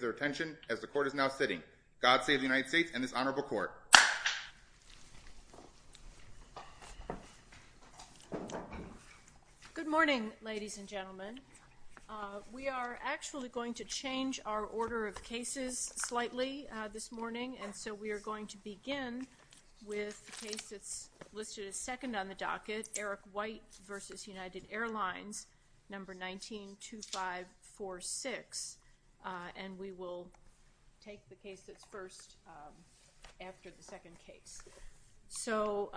192546 and we will take the case that's first after the second case. So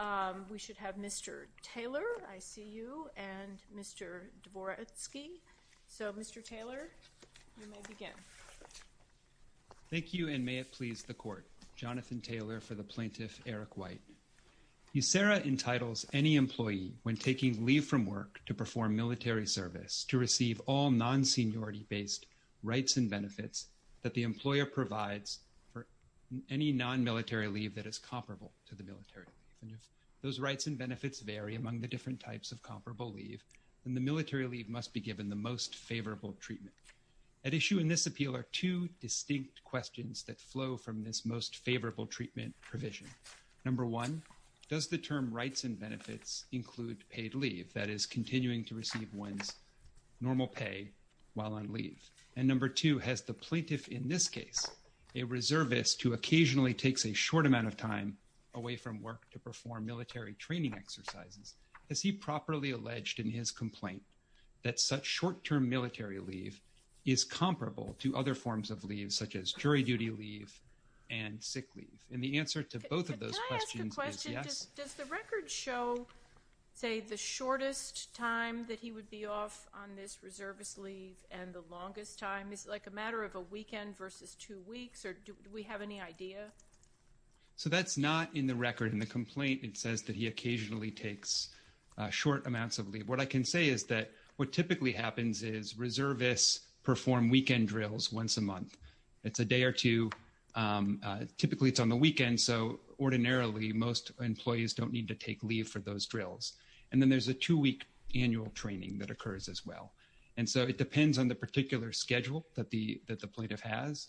we should have Mr. Taylor, I see you, and Mr. Dvoretsky. So Mr. Taylor, you may begin. Thank you and may it please the court. Jonathan Taylor for the plaintiff, Eric White. USERRA entitles any employee when taking leave from work to perform military service to receive all non-seniority based rights and benefits that the employer provides for any non-military leave that is comparable to the military leave. Those rights and benefits vary among the different types of comparable leave and the military leave must be given the most favorable treatment. At issue in this appeal are two distinct questions that flow from this most favorable treatment provision. Number one, does the term rights and benefits include paid leave, that is continuing to receive one's normal pay while on leave? And number two, has the plaintiff in this case, a reservist who occasionally takes a short amount of time away from work to perform military training exercises, has he properly alleged in his complaint that such short-term military leave is comparable to other forms of leave such as jury duty leave and sick leave? And the answer to both of those questions is yes. Does the record show say the shortest time that he would be off on this reservist leave and the longest time? Is it like a matter of a weekend versus two weeks or do we have any idea? So that's not in the record in the complaint. It says that he occasionally takes short amounts of leave. What I can say is that what typically happens is a day or two, typically it's on the weekend so ordinarily most employees don't need to take leave for those drills. And then there's a two-week annual training that occurs as well. And so it depends on the particular schedule that the that the plaintiff has,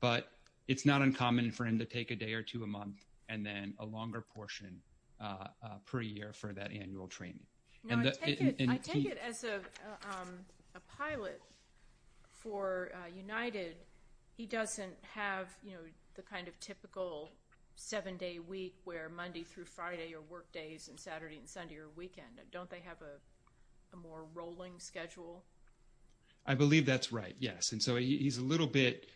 but it's not uncommon for him to take a day or two a month and then a longer portion per year for that annual training. No, I take it as a pilot for United, he doesn't have, you know, the kind of typical seven-day week where Monday through Friday are work days and Saturday and Sunday are weekend. Don't they have a more rolling schedule? I believe that's right, yes. And so he's a little bit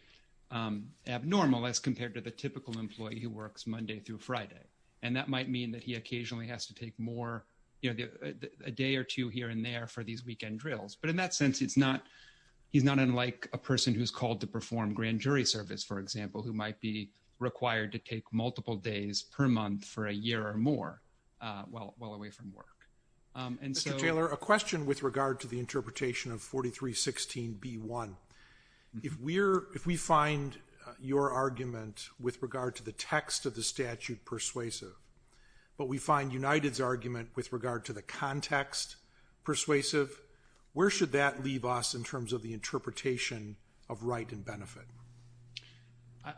abnormal as compared to the typical employee who works Monday through Friday. And that might mean that he occasionally has to take more, you know, a day or two here and there for these weekend drills. But in that sense it's not, he's not unlike a person who's called to perform grand jury service, for example, who might be required to take multiple days per month for a year or more while away from work. Mr. Taylor, a question with regard to the interpretation of 43-16 B-1. If we find your argument with regard to the text of the statute persuasive, but we find United's argument with regard to the context persuasive, where should that leave us in terms of the interpretation of right and benefit?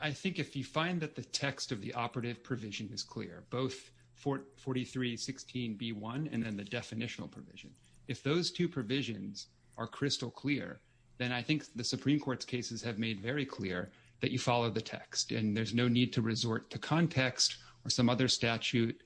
I think if you find that the text of the operative provision is clear, both 43-16 B-1 and then the definitional provision, if those two provisions are crystal clear, then I think the Supreme Court's cases have made very clear that you follow the text. And there's no need to resort to context or some other statute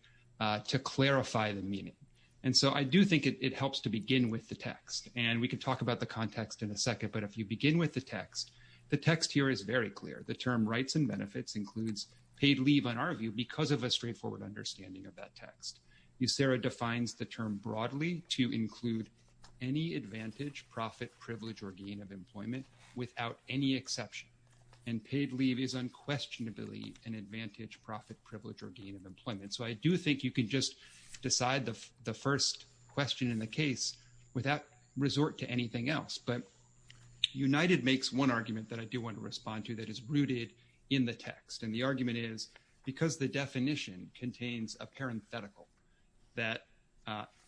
to clarify the meaning. And so I do think it helps to begin with the text. And we can talk about the context in a second. But if you begin with the text, the text here is very clear. The term rights and benefits includes paid leave on our view because of a straightforward understanding of that text. USERA defines the term broadly to include any advantage, profit, privilege, or gain of employment without any exception. And paid leave is unquestionably an advantage, profit, privilege, or gain of employment. So I do think you can just decide the first question in the case without resort to anything else. But United makes one argument that I do want to respond to that is because the definition contains a parenthetical that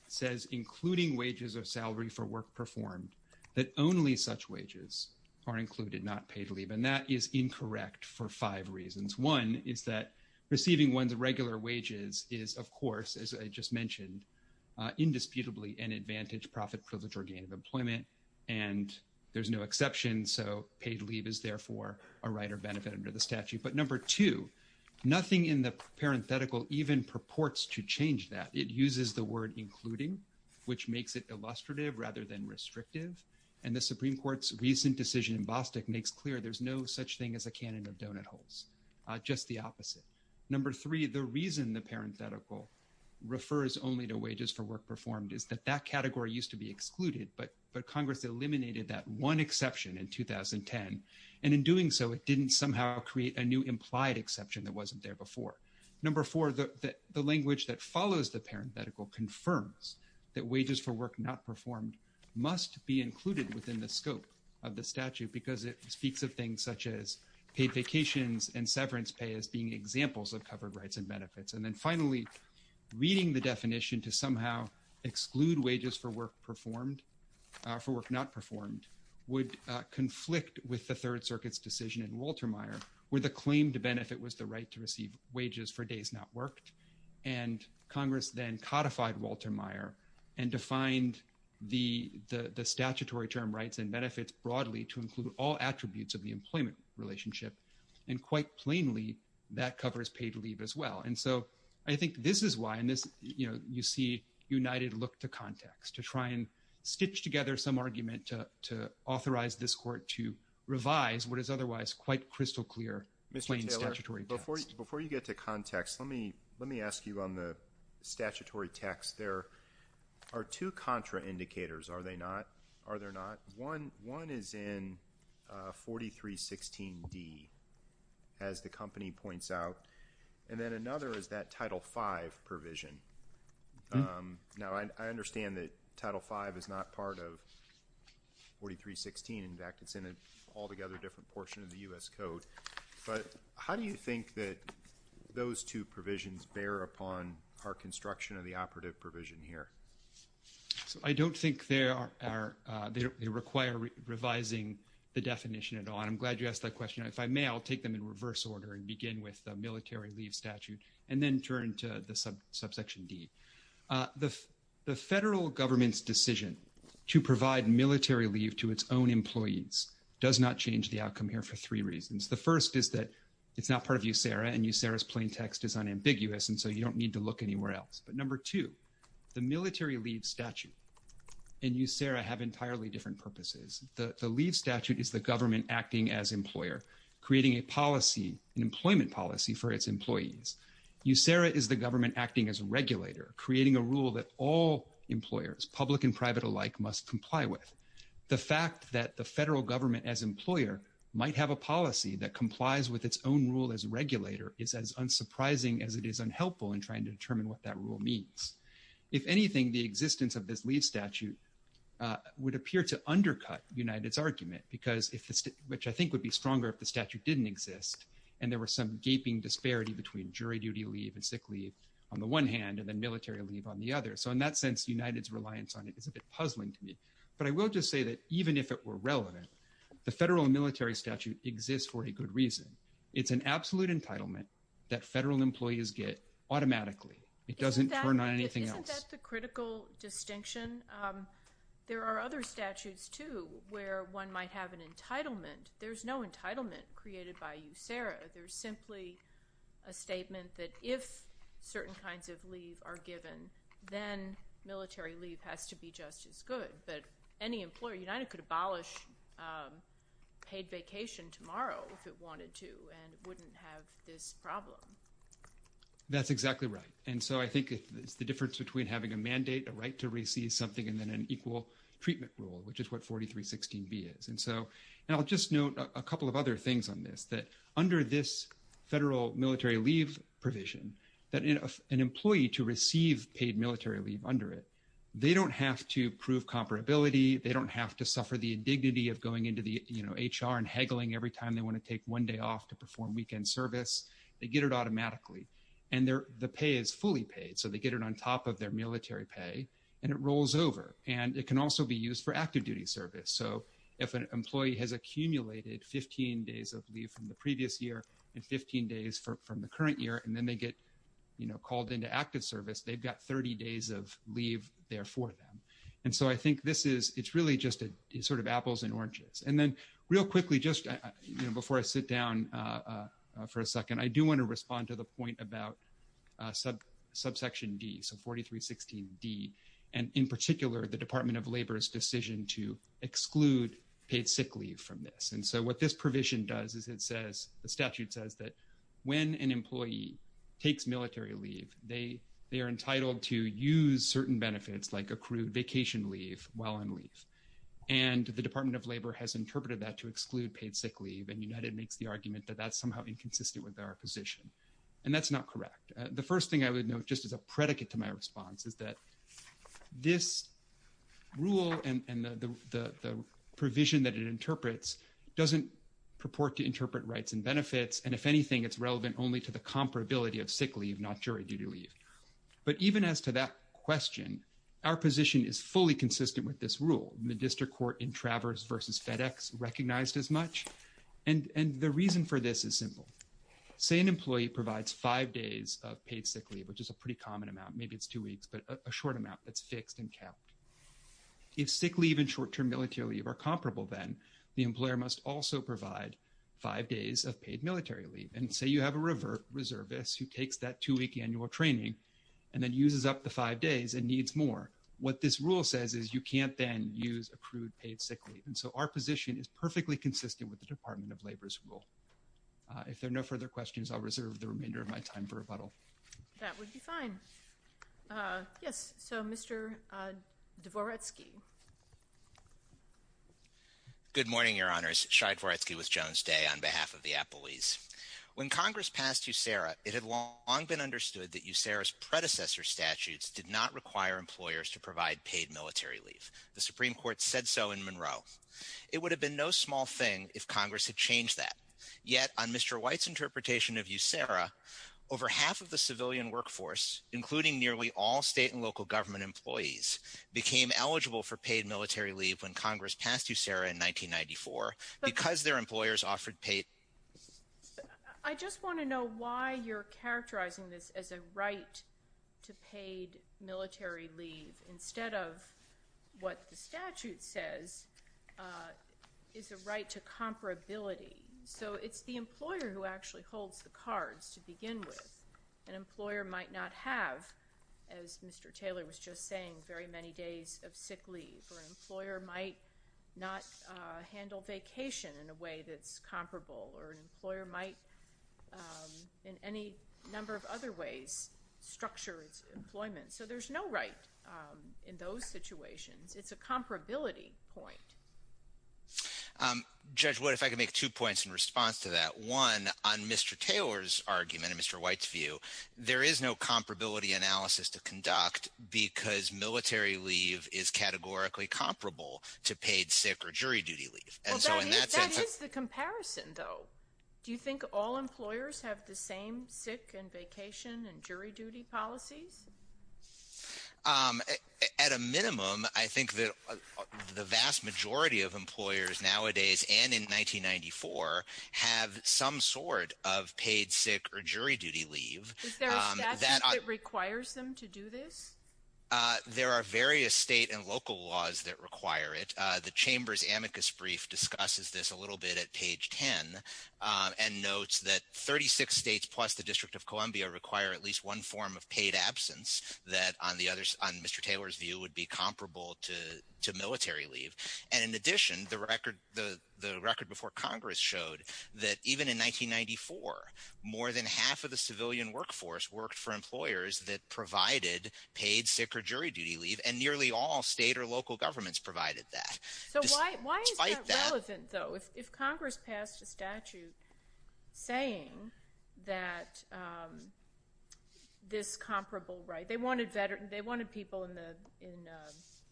says including wages or salary for work performed that only such wages are included, not paid leave. And that is incorrect for five reasons. One is that receiving one's regular wages is, of course, as I just mentioned, indisputably an advantage, profit, privilege, or gain of employment. And there's no exception. So paid leave is therefore a right or benefit under the statute. But number two, nothing in the parenthetical even purports to change that. It uses the word including, which makes it illustrative rather than restrictive. And the Supreme Court's recent decision in Bostock makes clear there's no such thing as a cannon of donut holes, just the opposite. Number three, the reason the parenthetical refers only to wages for work performed is that that category used to be excluded, but Congress eliminated that one so it didn't somehow create a new implied exception that wasn't there before. Number four, the language that follows the parenthetical confirms that wages for work not performed must be included within the scope of the statute because it speaks of things such as paid vacations and severance pay as being examples of covered rights and benefits. And then finally, reading the definition to somehow exclude wages for work performed, for work not performed, would conflict with the Third Circuit's decision in Walter Meyer, where the claim to benefit was the right to receive wages for days not worked. And Congress then codified Walter Meyer and defined the statutory term rights and benefits broadly to include all attributes of the employment relationship. And quite plainly, that covers paid leave as well. And so I think this is why, you see United look to context, to try and stitch together some argument to authorize this court to revise what is otherwise quite crystal clear plain statutory text. Mr. Taylor, before you get to context, let me ask you on the statutory text. There are two contra indicators, are there not? One is in 4316D, as the company points out, and then another is that Title V provision. Now, I understand that Title V is not part of 4316. In fact, it's in an altogether different portion of the U.S. Code. But how do you think that those two provisions bear upon our construction of the operative provision here? So I don't think they require revising the definition at all. And I'm glad you asked that question. If I may, I'll take them in reverse order and begin with the military leave statute, and then turn to the subsection D. The federal government's decision to provide military leave to its own employees does not change the outcome here for three reasons. The first is that it's not part of USERRA, and USERRA's plain text is unambiguous, and so you don't need to look anywhere else. But number two, the military leave statute and USERRA have entirely different purposes. The leave statute is the government acting as employer, creating a policy, an employment policy for its employees. USERRA is the government acting as a regulator, creating a rule that all employers, public and private alike, must comply with. The fact that the federal government as employer might have a policy that complies with its own rule as regulator is as unsurprising as it is unhelpful in trying to determine what that rule means. If anything, the existence of this statute would appear to undercut United's argument, which I think would be stronger if the statute didn't exist, and there were some gaping disparity between jury duty leave and sick leave on the one hand, and then military leave on the other. So in that sense, United's reliance on it is a bit puzzling to me. But I will just say that even if it were relevant, the federal military statute exists for a good reason. It's an absolute entitlement that federal employees get automatically. It doesn't turn on anything else. Isn't that the critical distinction? There are other statutes, too, where one might have an entitlement. There's no entitlement created by USERRA. There's simply a statement that if certain kinds of leave are given, then military leave has to be just as good. But any employer, United could abolish paid vacation tomorrow if it wanted to, and wouldn't have this problem. That's exactly right. And so I think it's the difference between having a mandate, a right to receive something, and then an equal treatment rule, which is what 4316B is. And I'll just note a couple of other things on this, that under this federal military leave provision, that an employee to receive paid military leave under it, they don't have to prove comparability. They don't have to suffer the indignity of going into the HR and haggling every weekend service. They get it automatically. And the pay is fully paid. So they get it on top of their military pay, and it rolls over. And it can also be used for active duty service. So if an employee has accumulated 15 days of leave from the previous year and 15 days from the current year, and then they get called into active service, they've got 30 days of leave there for them. And so I think this is, it's really just sort of apples and oranges. And then real quickly, before I sit down for a second, I do want to respond to the point about subsection D, so 4316D. And in particular, the Department of Labor's decision to exclude paid sick leave from this. And so what this provision does is it says, the statute says that when an employee takes military leave, they are entitled to use certain benefits like accrued vacation leave while on paid sick leave. And United makes the argument that that's somehow inconsistent with our position. And that's not correct. The first thing I would note just as a predicate to my response is that this rule and the provision that it interprets doesn't purport to interpret rights and benefits. And if anything, it's relevant only to the comparability of sick leave, not jury duty leave. But even as to that question, our position is fully consistent with this rule. The district court in Travers versus FedEx recognized as much. And the reason for this is simple. Say an employee provides five days of paid sick leave, which is a pretty common amount, maybe it's two weeks, but a short amount that's fixed and kept. If sick leave and short-term military leave are comparable, then the employer must also provide five days of paid military leave. And say you have a reservist who takes that two-week annual training and then uses up the paid sick leave. And so our position is perfectly consistent with the Department of Labor's rule. If there are no further questions, I'll reserve the remainder of my time for rebuttal. That would be fine. Yes. So, Mr. Dvoretsky. Good morning, Your Honors. Shai Dvoretsky with Jones Day on behalf of the appellees. When Congress passed USERRA, it had long been understood that USERRA's predecessor statutes did not require employers to provide paid military leave. The Supreme Court said so in Monroe. It would have been no small thing if Congress had changed that. Yet, on Mr. White's interpretation of USERRA, over half of the civilian workforce, including nearly all state and local government employees, became eligible for paid military leave when Congress passed USERRA in 1994 because their employers offered paid- I just want to know why you're characterizing this as a right to paid military leave instead of what the statute says is a right to comparability. So it's the employer who actually holds the cards to begin with. An employer might not have, as Mr. Taylor was just saying, very many days of sick leave. Or an employer might not handle vacation in a way that's comparable. Or an employer might, in any number of other ways, structure its employment. So there's no right in those situations. It's a comparability point. Judge, what if I could make two points in response to that? One, on Mr. Taylor's argument and Mr. White's view, there is no comparability analysis to conduct because military leave is categorically comparable to paid sick or jury duty leave. Well, that is the comparison, though. Do you think all employers have the same sick and vacation and jury duty policies? At a minimum, I think that the vast majority of employers nowadays, and in 1994, have some sort of paid sick or jury duty leave. Is there a statute that requires them to do this? There are various state and local laws that require it. The Chamber's amicus brief discusses this a little bit at page 10 and notes that 36 states plus the District of Columbia require at least one form of paid absence that, on Mr. Taylor's view, would be comparable to military leave. And in addition, the record before Congress showed that even in 1994, more than half of the civilian workforce worked for employers that provided paid sick or jury duty leave. And if Congress passed a statute saying that this comparable right, they wanted people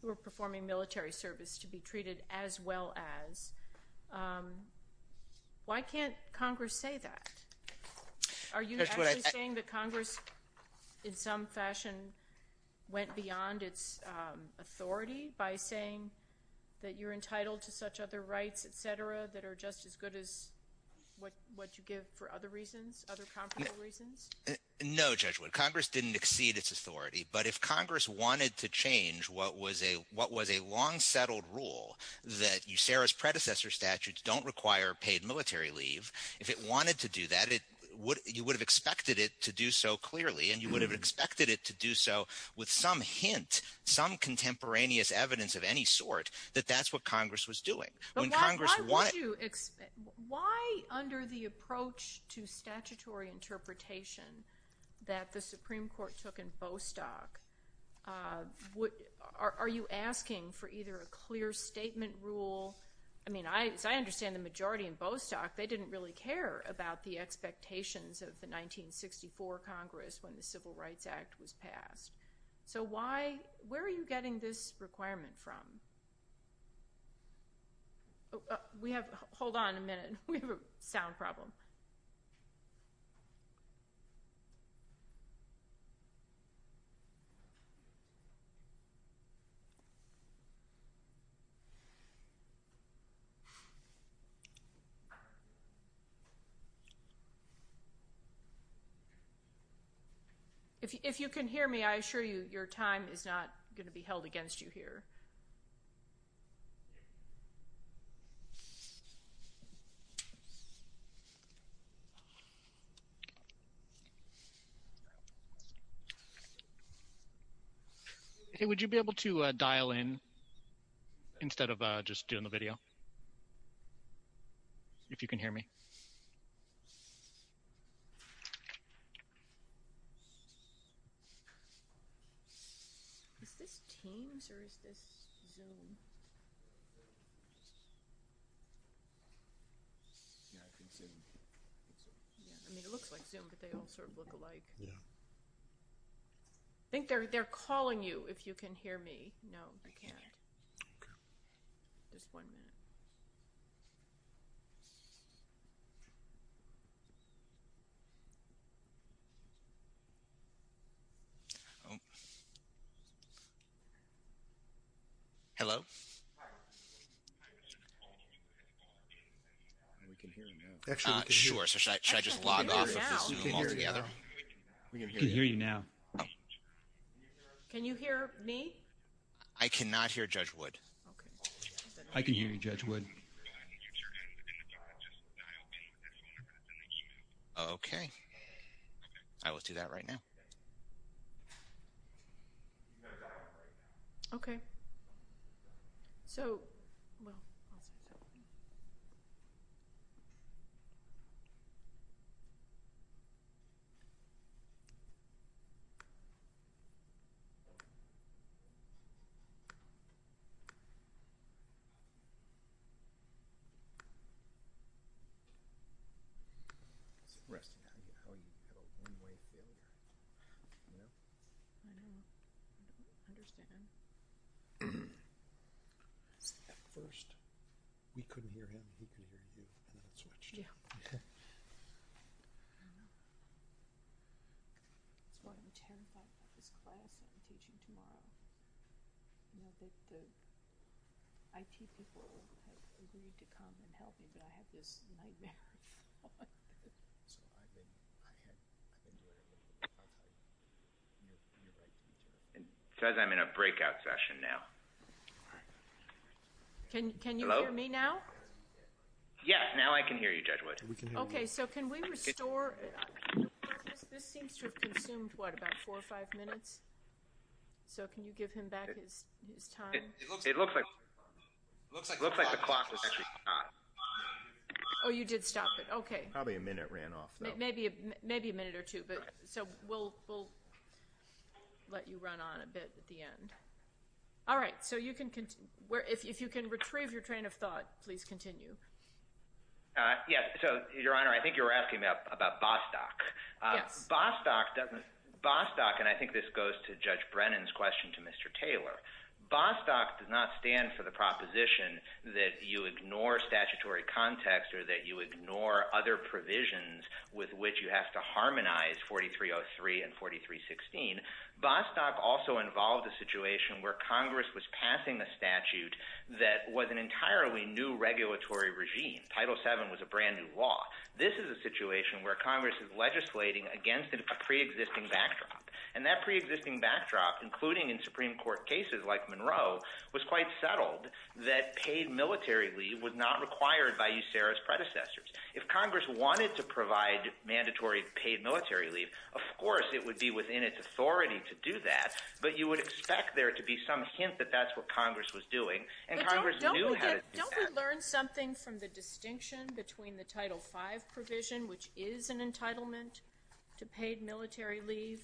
who were performing military service to be treated as well as, why can't Congress say that? Are you actually saying that Congress, in some fashion, went beyond its authority by saying that you're entitled to such other rights, et cetera, that are just as good as what you give for other reasons, other comparable reasons? No, Judge Wood. Congress didn't exceed its authority. But if Congress wanted to change what was a long-settled rule that USERRA's predecessor statutes don't require paid military leave, if it wanted to do that, you would have expected it to do so clearly, and you would have expected it to do so with some hint, some contemporaneous evidence of any sort, that that's what Congress was doing. But why under the approach to statutory interpretation that the Supreme Court took in Bostock, are you asking for either a clear statement rule? I mean, as I understand, the majority in Bostock, they didn't really care about the expectations of the 1964 Congress when Civil Rights Act was passed. So why, where are you getting this requirement from? We have, hold on a minute. We have a sound problem. If you can hear me, I assure you, your time is not going to be held against you here. Hey, would you be able to dial in instead of just doing the video, if you can hear me? Is this Teams or is this Zoom? Yeah, I think Zoom. Yeah, I mean, it looks like Zoom, but they all sort of look alike. Yeah. I think they're calling you, if you can hear me. No, you can't. Just one minute. Oh. Hello? We can hear you now. Uh, sure. So should I just log off of Zoom altogether? We can hear you now. Can you hear me? I cannot hear Judge Wood. I can hear you, Judge Wood. Okay. I will do that right now. Okay. Okay. So, well, I'll say something. Yeah. I know. I don't understand. At first, we couldn't hear him, he couldn't hear you, and then it switched. Yeah. That's why I'm terrified about this class I'm teaching tomorrow. You know that the IT people have agreed to come and help me, but I have this nightmare. So I've been, I had, I've been doing it with a contact, and you're right to do it. It says I'm in a breakout session now. Can you hear me now? Yes, now I can hear you, Judge Wood. Okay. So can we restore? This seems to have consumed, what, about four or five minutes? So can you give him back his time? It looks like, it looks like the clock has actually stopped. Oh, you did stop it. Okay. Probably a minute ran off, though. Maybe, maybe a minute or two, but so we'll, we'll let you run on a bit at the end. All right. So you can, where, if you can retrieve your train of thought, please continue. Yes. So, Your Honor, I think you were asking about, about Bostock. Yes. Bostock doesn't, Bostock, and I think this goes to Judge Brennan's question to Mr. Taylor. Bostock does not stand for the proposition that you ignore statutory context or that you ignore other provisions with which you have to harmonize 4303 and 4316. Bostock also involved a situation where Congress was passing a statute that was an entirely new regulatory regime. Title VII was a brand new law. This is a situation where Congress is legislating against a preexisting backdrop, and that preexisting backdrop, including in Supreme Court cases like Monroe, was quite settled that paid military leave was not required by USARA's predecessors. If Congress wanted to provide mandatory paid military leave, of course it would be within its authority to do that, but you would expect there to be some hint that that's what Congress was doing, and Congress knew how to do that. Don't we learn something from the distinction between the Title V provision, which is an entitlement to paid military leave,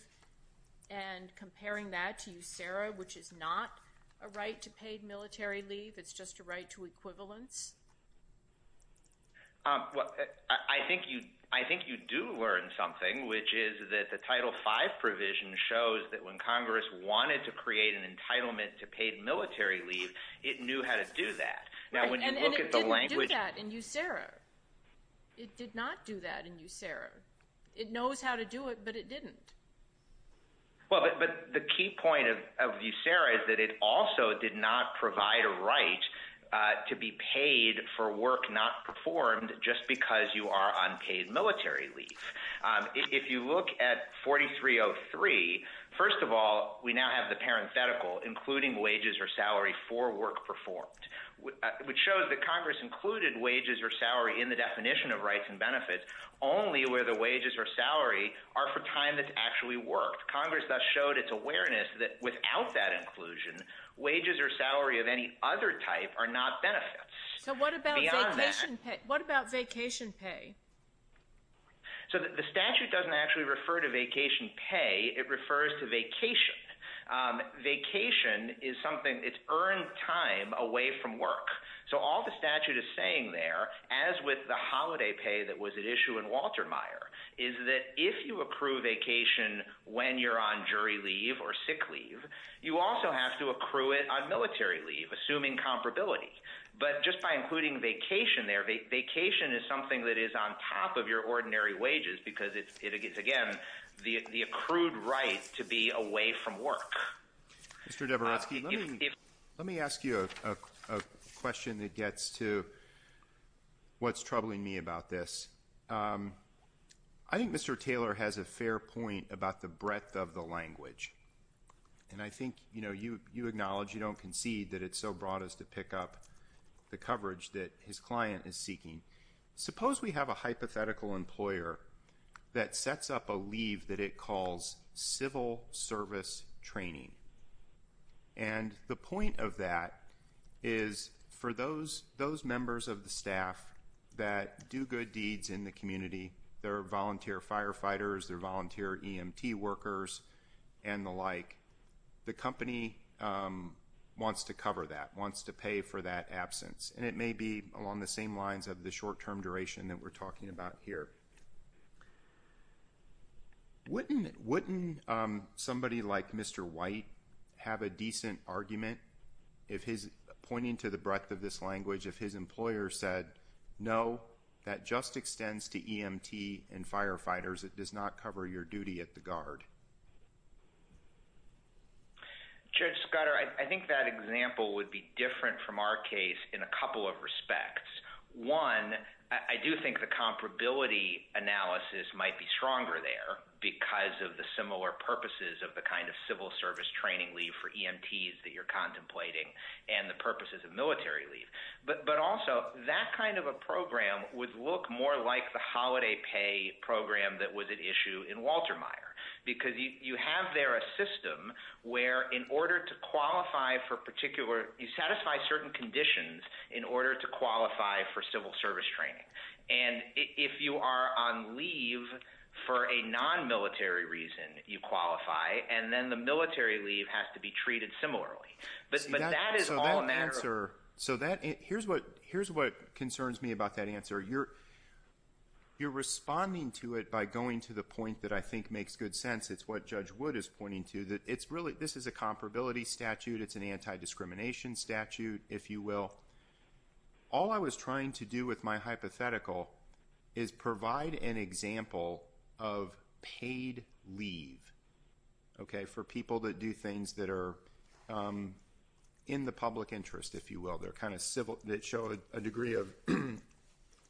and comparing that to USARA, which is not a right to paid military leave? It's just a right to equivalence? Well, I think you do learn something, which is that the Title V provision shows that when Congress wanted to create an entitlement to paid military leave, it knew how to do that. And it didn't do that in USARA. It did not do that in USARA. It knows how to do it, but it didn't. Well, but the key point of USARA is that it also did not provide a right to be paid for work not performed just because you are on paid military leave. If you look at 4303, first of all, we now have the parenthetical, including wages or salary for work performed, which shows that Congress included wages or salary in the definition of rights and benefits, only where the wages or salary are for time that's actually worked. Congress thus showed its awareness that without that inclusion, wages or salary of any other type are not benefits. So what about vacation pay? So the statute doesn't actually refer to vacation pay. It refers to vacation. Vacation is something, it's earned time away from work. So all the statute is saying there, as with the holiday pay that was at issue in Walter Meyer, is that if you accrue vacation when you're on jury leave or sick leave, you also have to accrue it on military leave, assuming comparability. But just by including vacation there, vacation is something that is on top of your ordinary wages, because it's, again, the accrued right to be away from work. Mr. Dabrowski, let me ask you a question that gets to what's troubling me about this. I think Mr. Taylor has a fair point about the breadth of the language. And I think, you know, you acknowledge, you don't concede that it's so broad as to pick up the coverage that his client is seeking. Suppose we have a hypothetical employer that sets up a leave that it calls civil service training. And the point of that is for those members of the staff that do good deeds in the community, they're volunteer firefighters, they're volunteer EMT workers, and the like. The company wants to cover that, wants to pay for that absence. And it may be along the same lines of the short-term duration that we're talking about here. Wouldn't somebody like Mr. White have a decent argument if his, pointing to the breadth of this language, if his employer said, no, that just extends to EMT and firefighters, it does not cover your duty at the guard? Judge Scudder, I think that example would be different from our case in a couple of respects. One, I do think the comparability analysis might be stronger there because of the similar purposes of the kind of civil service training leave for EMTs that you're would look more like the holiday pay program that was at issue in Walter Meyer. Because you have there a system where in order to qualify for particular, you satisfy certain conditions in order to qualify for civil service training. And if you are on leave for a non-military reason, you qualify, and then the military leave has to be treated similarly. But that is all a matter of- So that, here's what concerns me about that answer. You're responding to it by going to the point that I think makes good sense. It's what Judge Wood is pointing to. That it's really, this is a comparability statute. It's an anti-discrimination statute, if you will. All I was trying to do with my hypothetical is provide an example of paid leave, okay, for people that do things that are in the public interest, if you will. They're kind of civil, that show a degree of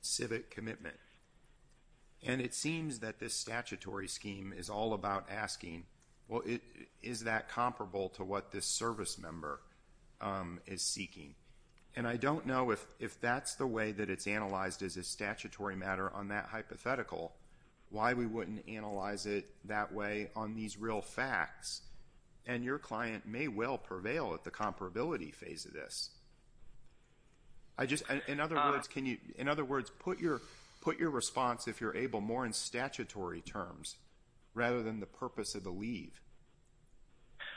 civic commitment. And it seems that this statutory scheme is all about asking, well, is that comparable to what this service member is seeking? And I don't know if that's the way that it's analyzed as a statutory matter on that hypothetical, why we wouldn't analyze it that way on these real facts. And your client may well prevail at the comparability phase of this. I just, in other words, can you, in other words, put your response, if you're able, more in statutory terms, rather than the purpose of the leave.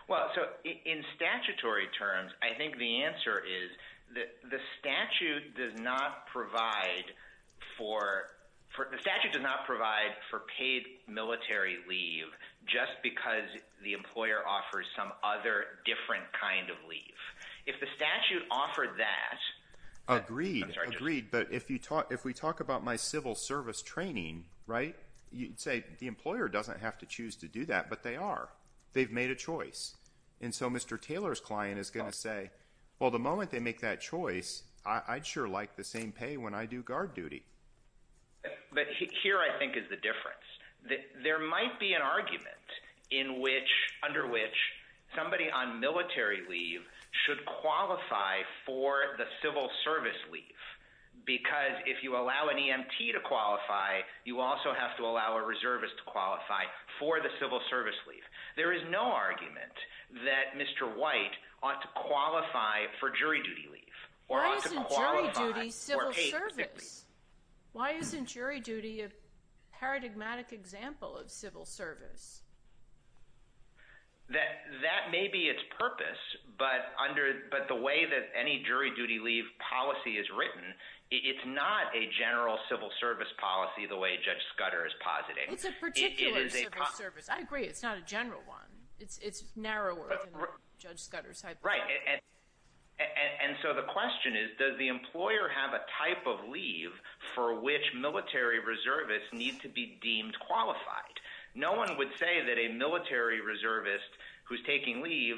Well, so in statutory terms, I think the answer is that the statute does not provide for, the statute does not provide for paid military leave just because the employer offers some other different kind of leave. If the statute offered that. Agreed, agreed. But if we talk about my civil service training, right, you'd say the employer doesn't have to choose to do that, but they are. They've made a choice. And so Mr. Taylor's client is going to say, well, the moment they make that choice, I'd sure like the same pay when I do guard duty. But here, I think, is the difference that there might be an argument in which, under which somebody on military leave should qualify for the civil service leave. Because if you allow an EMT to qualify, you also have to allow a reservist to qualify for the civil service leave. There is no argument that Mr. White ought to qualify for jury duty leave. Why isn't jury duty civil service? Why isn't jury duty a paradigmatic example of civil service? That may be its purpose, but under, but the way that any jury duty leave policy is written, it's not a general civil service policy the way Judge Scudder is positing. It's a particular civil service. I agree. It's not a general one. It's narrower than Judge Scudder's hypothesis. Right, and so the question is, does the employer have a type of leave for which military reservists need to be deemed qualified? No one would say that a military reservist who's taking leave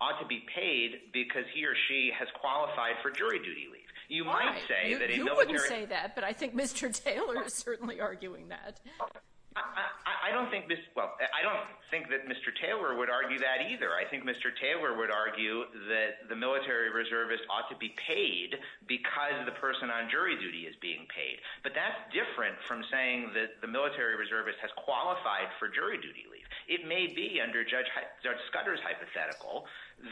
ought to be paid because he or she has qualified for jury duty leave. You might say that a military— You wouldn't say that, but I think Mr. Taylor is certainly arguing that. I don't think, well, I don't think that Mr. Taylor would argue that either. I think Mr. Taylor would argue that the military reservist ought to be paid because the person on jury duty is being paid, but that's different from saying that the military reservist has qualified for jury duty leave. It may be, under Judge Scudder's hypothetical,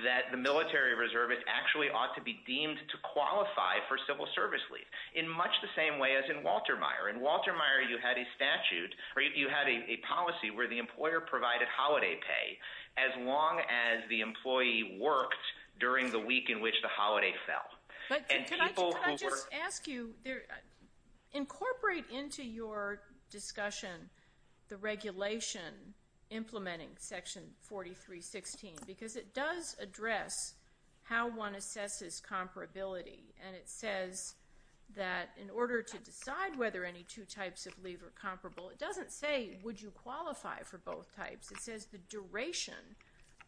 that the military reservist actually ought to be deemed to qualify for civil service leave in much the same way as in Walter Meyer. In Walter Meyer, you had a statute, or you had a policy where the employer provided holiday pay as long as the employee worked during the week in which the holiday fell. But could I just ask you—incorporate into your discussion the regulation implementing Section 4316, because it does address how one assesses comparability, and it says that in order to decide whether any two types of leave are comparable, it doesn't say would you qualify for both types. It says the duration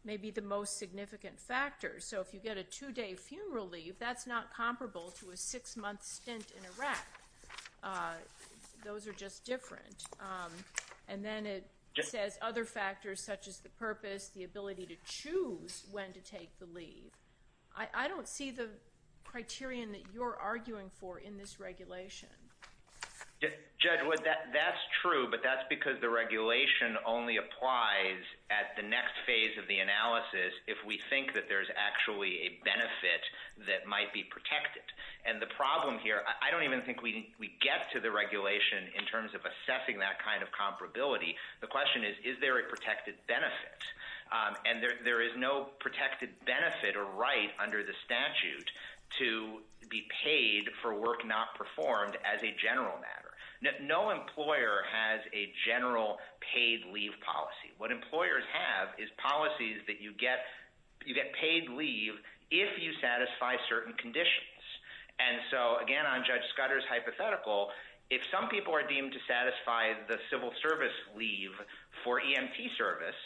may be the most significant factor. So if you get a two-day funeral leave, that's not comparable to a six-month stint in Iraq. Those are just different. And then it says other factors such as the purpose, the ability to choose when to take the leave. I don't see the criterion that you're arguing for in this regulation. Judge, that's true, but that's because the regulation only applies at the next phase of the analysis if we think that there's actually a benefit that might be protected. And the problem here—I don't even think we get to the regulation in terms of assessing that kind of comparability. The question is, is there a protected benefit? And there is no protected benefit or right under the statute to be paid for work not performed as a general matter. No employer has a general paid leave policy. What employers have is policies that you get paid leave if you satisfy certain conditions. And so, again, on Judge Scudder's hypothetical, if some people are deemed to satisfy the civil service leave for EMT service,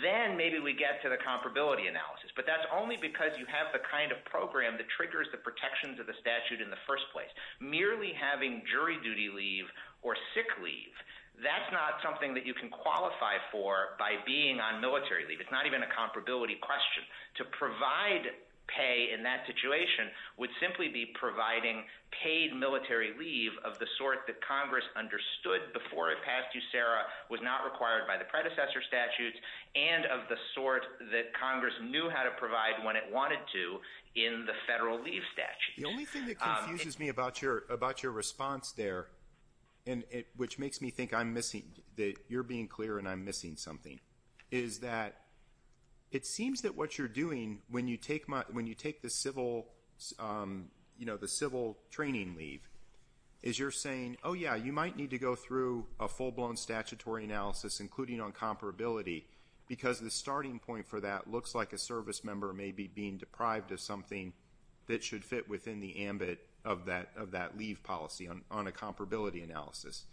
then maybe we get to the comparability analysis. But that's only because you have the kind of program that triggers the protections of the statute in the first place. Merely having jury duty leave or sick leave, that's not something that you can qualify for by being on military leave. It's not even a comparability question. To provide pay in that situation would simply be providing paid military leave of the sort that Congress understood before it passed you, Sarah, was not required by the predecessor statutes and of the sort that Congress knew how to provide when it wanted to in the federal leave statute. The only thing that confuses me about your response there, which makes me think I'm missing, that you're being clear and I'm missing something, is that it seems that what you're doing when you take the civil training leave is you're saying, oh, yeah, you might need to go through a full-blown statutory analysis, including on comparability, because the starting point for that looks like a service member may be being deprived of something that should fit within the ambit of that leave policy on a comparability analysis.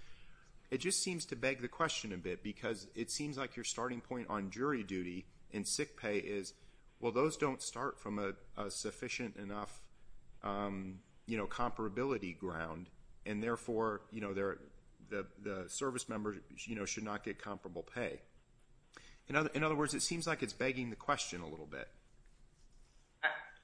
It just seems to beg the question a bit because it seems like your starting point on jury duty and sick pay is, well, those don't start from a sufficient enough comparability ground and therefore the service member should not get comparable pay. In other words, it seems like it's begging the question a little bit.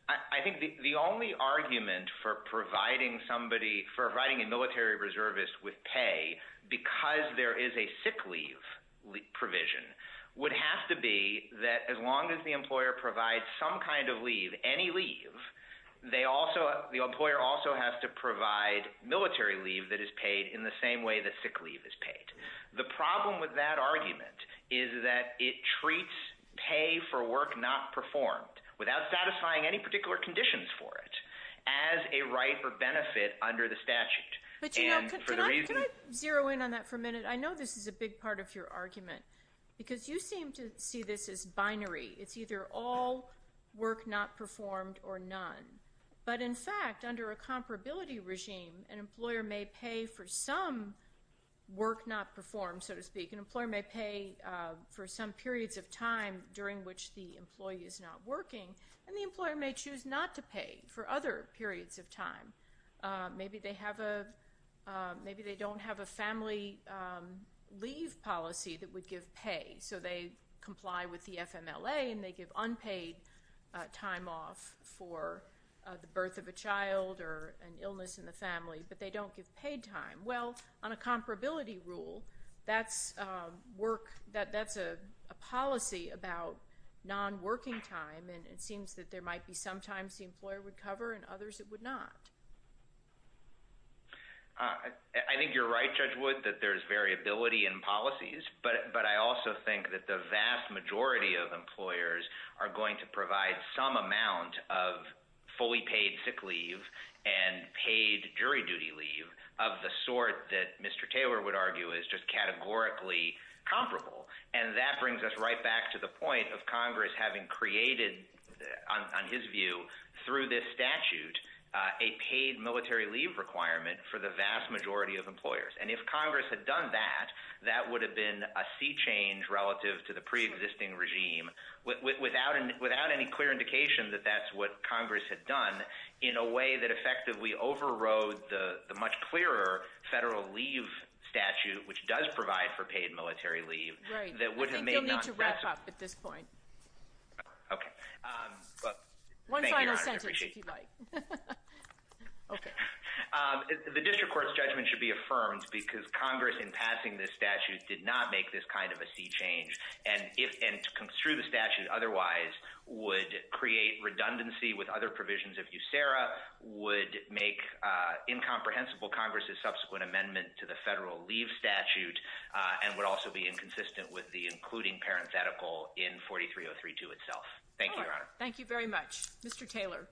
I think the only argument for providing somebody, for providing a military reservist with pay because there is a sick leave provision would have to be that as long as the employer provides some kind of leave, any leave, they also, the employer also has to provide military leave that is paid in the same way that sick leave is paid. The problem with that argument is that it treats pay for work not performed without satisfying any particular conditions for it as a right or benefit under the statute. But you know, can I zero in on that for a minute? I know this is a big part of your argument because you seem to see this as binary. It's either all work not performed or none. But in fact, under a comparability regime, an employer may pay for some work not performed, so to speak. An employer may pay for some periods of time during which the employee is not working and the employer may choose not to pay for other periods of time. Maybe they don't have a family leave policy that would give pay so they comply with the FMLA and they give unpaid time off for the birth of a child or an illness in the family, but they don't give paid time. Well, on a comparability rule, that's a policy about non-working time and it seems that there might be some times the employer would cover and others it would not. I think you're right, Judge Wood, that there's variability in policies, but I also think that the vast majority of employers are going to provide some amount of fully paid sick leave and paid jury duty leave of the sort that Mr. Taylor would argue is just categorically comparable. And that brings us right back to the point of Congress having created, on his view, through this statute, a paid military leave requirement for the vast majority of employers. And if Congress had done that, that would have been a sea change relative to the pre-existing regime without any clear indication that that's what Congress had done in a way that effectively overrode the much clearer federal leave statute, which does provide for paid military leave. You'll need to wrap up at this point. One final sentence, if you'd like. The district court's judgment should be affirmed because Congress, in passing this statute, did not make this kind of a sea change. And to construe the statute otherwise would create redundancy with other provisions of USERRA, would make incomprehensible Congress's subsequent amendment to the federal leave statute, and would also be inconsistent with the including parenthetical in 43032 itself. Thank you, Your Honor. Thank you very much. Mr. Taylor.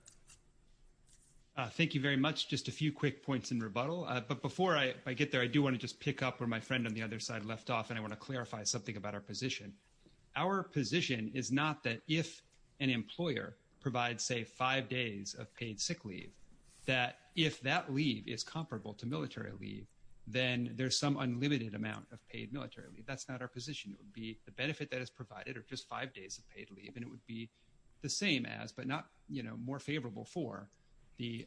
Thank you very much. Just a few quick points in rebuttal. But before I get there, I do want to just pick up where my friend on the other side left off. And I want to clarify something about our position. Our position is not that if an employer provides, say, five days of paid sick leave, that if that leave is comparable to military leave, then there's some unlimited amount of paid military leave. That's not our position. It would be the benefit that is provided are just five days of paid leave. And it would be the same as, but not more favorable for, the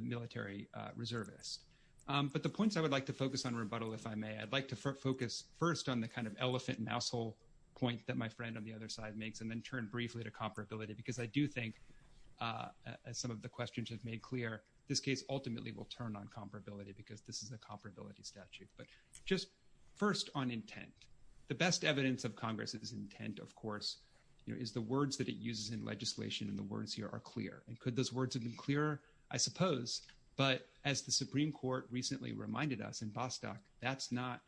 military reservist. But the points I would like to focus on rebuttal, if I may, I'd like to focus first on the kind of elephant-mousehole point that my friend on the other side makes, and then turn briefly to comparability. Because I do think, as some of the questions have made clear, this case ultimately will turn on comparability, because this is a comparability statute. But just first on intent, the best evidence of Congress's intent, of course, is the words that it uses in legislation. And the words here are clear. And could those words have been clearer? I suppose. But as the Supreme Court recently reminded us in Bostock, that's not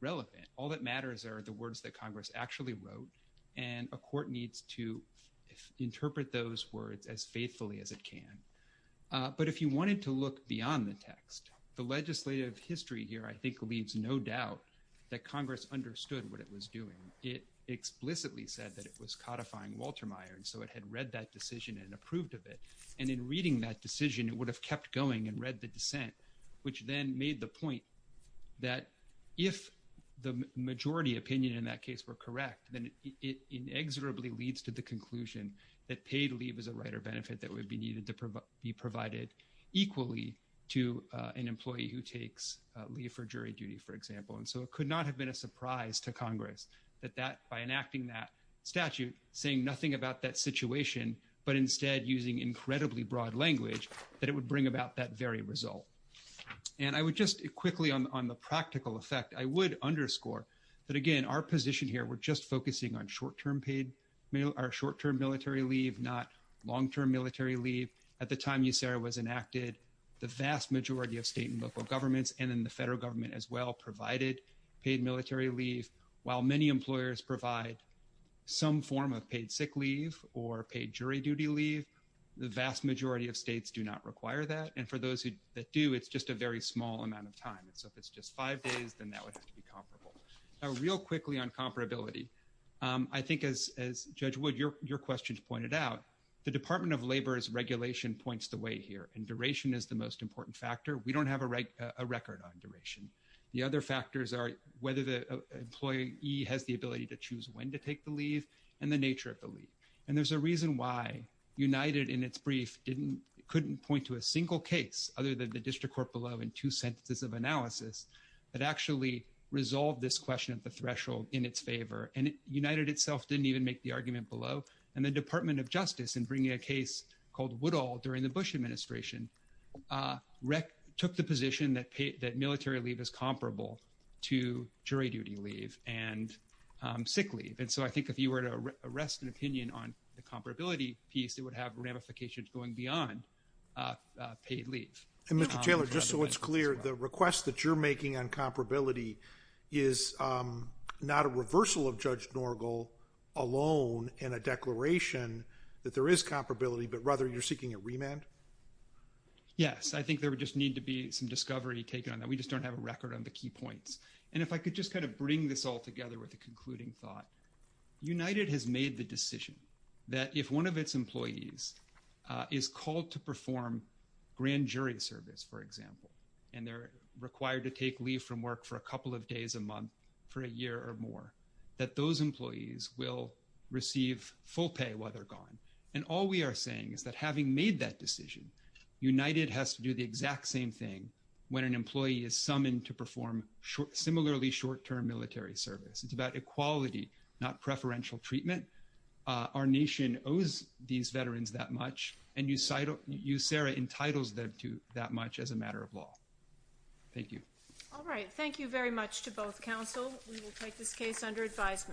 relevant. All that matters are the words that Congress actually wrote. And a court needs to interpret those words as faithfully as it can. But if you wanted to look beyond the text, the legislative history here, I think, leaves no doubt that Congress understood what it was doing. It explicitly said that it was codifying Walter Meyer. And so it had read that decision and approved of it. And in reading that decision, it would have kept going and read the dissent, which then made the point that if the majority opinion in that case were correct, then it inexorably leads to the conclusion that paid leave is a right or benefit that would be needed to be provided equally to an employee who takes leave for jury duty, for example. And so it could not have been a surprise to Congress that by enacting that statute, saying nothing about that situation, but instead using incredibly broad language, that it would bring about that very result. And I would just quickly, on the practical effect, I would underscore that, again, our position here, we're just focusing on short-term military leave, not long-term military leave. At the time USERRA was enacted, the vast majority of state and local governments, and then the federal government as well, provided paid military leave. While many employers provide some form of paid sick leave or paid jury duty leave, the vast majority of states do not require that. And for those that do, it's just a very small amount of time. And so if it's just five days, then that would have to be comparable. Now, real quickly on comparability, I think as Judge Wood, your questions pointed out, the Department of Labor's regulation points the way here. And duration is the most important factor. We don't have a record on duration. The other factors are whether the employee has the ability to choose when to take the leave and the nature of the leave. And there's a reason why United, in its brief, couldn't point to a single case other than the district court below in two sentences of analysis that actually resolved this question at the threshold in its favor. United itself didn't even make the argument below. And the Department of Justice, in bringing a case called Woodall during the Bush administration, took the position that military leave is comparable to jury duty leave and sick leave. And so I think if you were to arrest an opinion on the comparability piece, it would have ramifications going beyond paid leave. And Mr. Taylor, just so it's clear, the request that you're making on comparability is not a reversal of Judge Norgle alone in a declaration that there is comparability, but rather you're seeking a remand? Yes. I think there would just need to be some discovery taken on that. We just don't have a record on the key points. And if I could just kind of bring this all together with a concluding thought, United has made the decision that if one of its employees is called to perform grand jury service, for example, and they're required to take leave from work for a couple of days a month for a year or more, that those employees will receive full pay while they're gone. And all we are saying is that having made that decision, United has to do the exact same thing when an employee is summoned to perform similarly short-term military service. It's about equality, not preferential treatment. Our nation owes these veterans that much and USERRA entitles them to that much as a matter of law. Thank you. All right. Thank you very much to both counsel. We will take this case under advisement.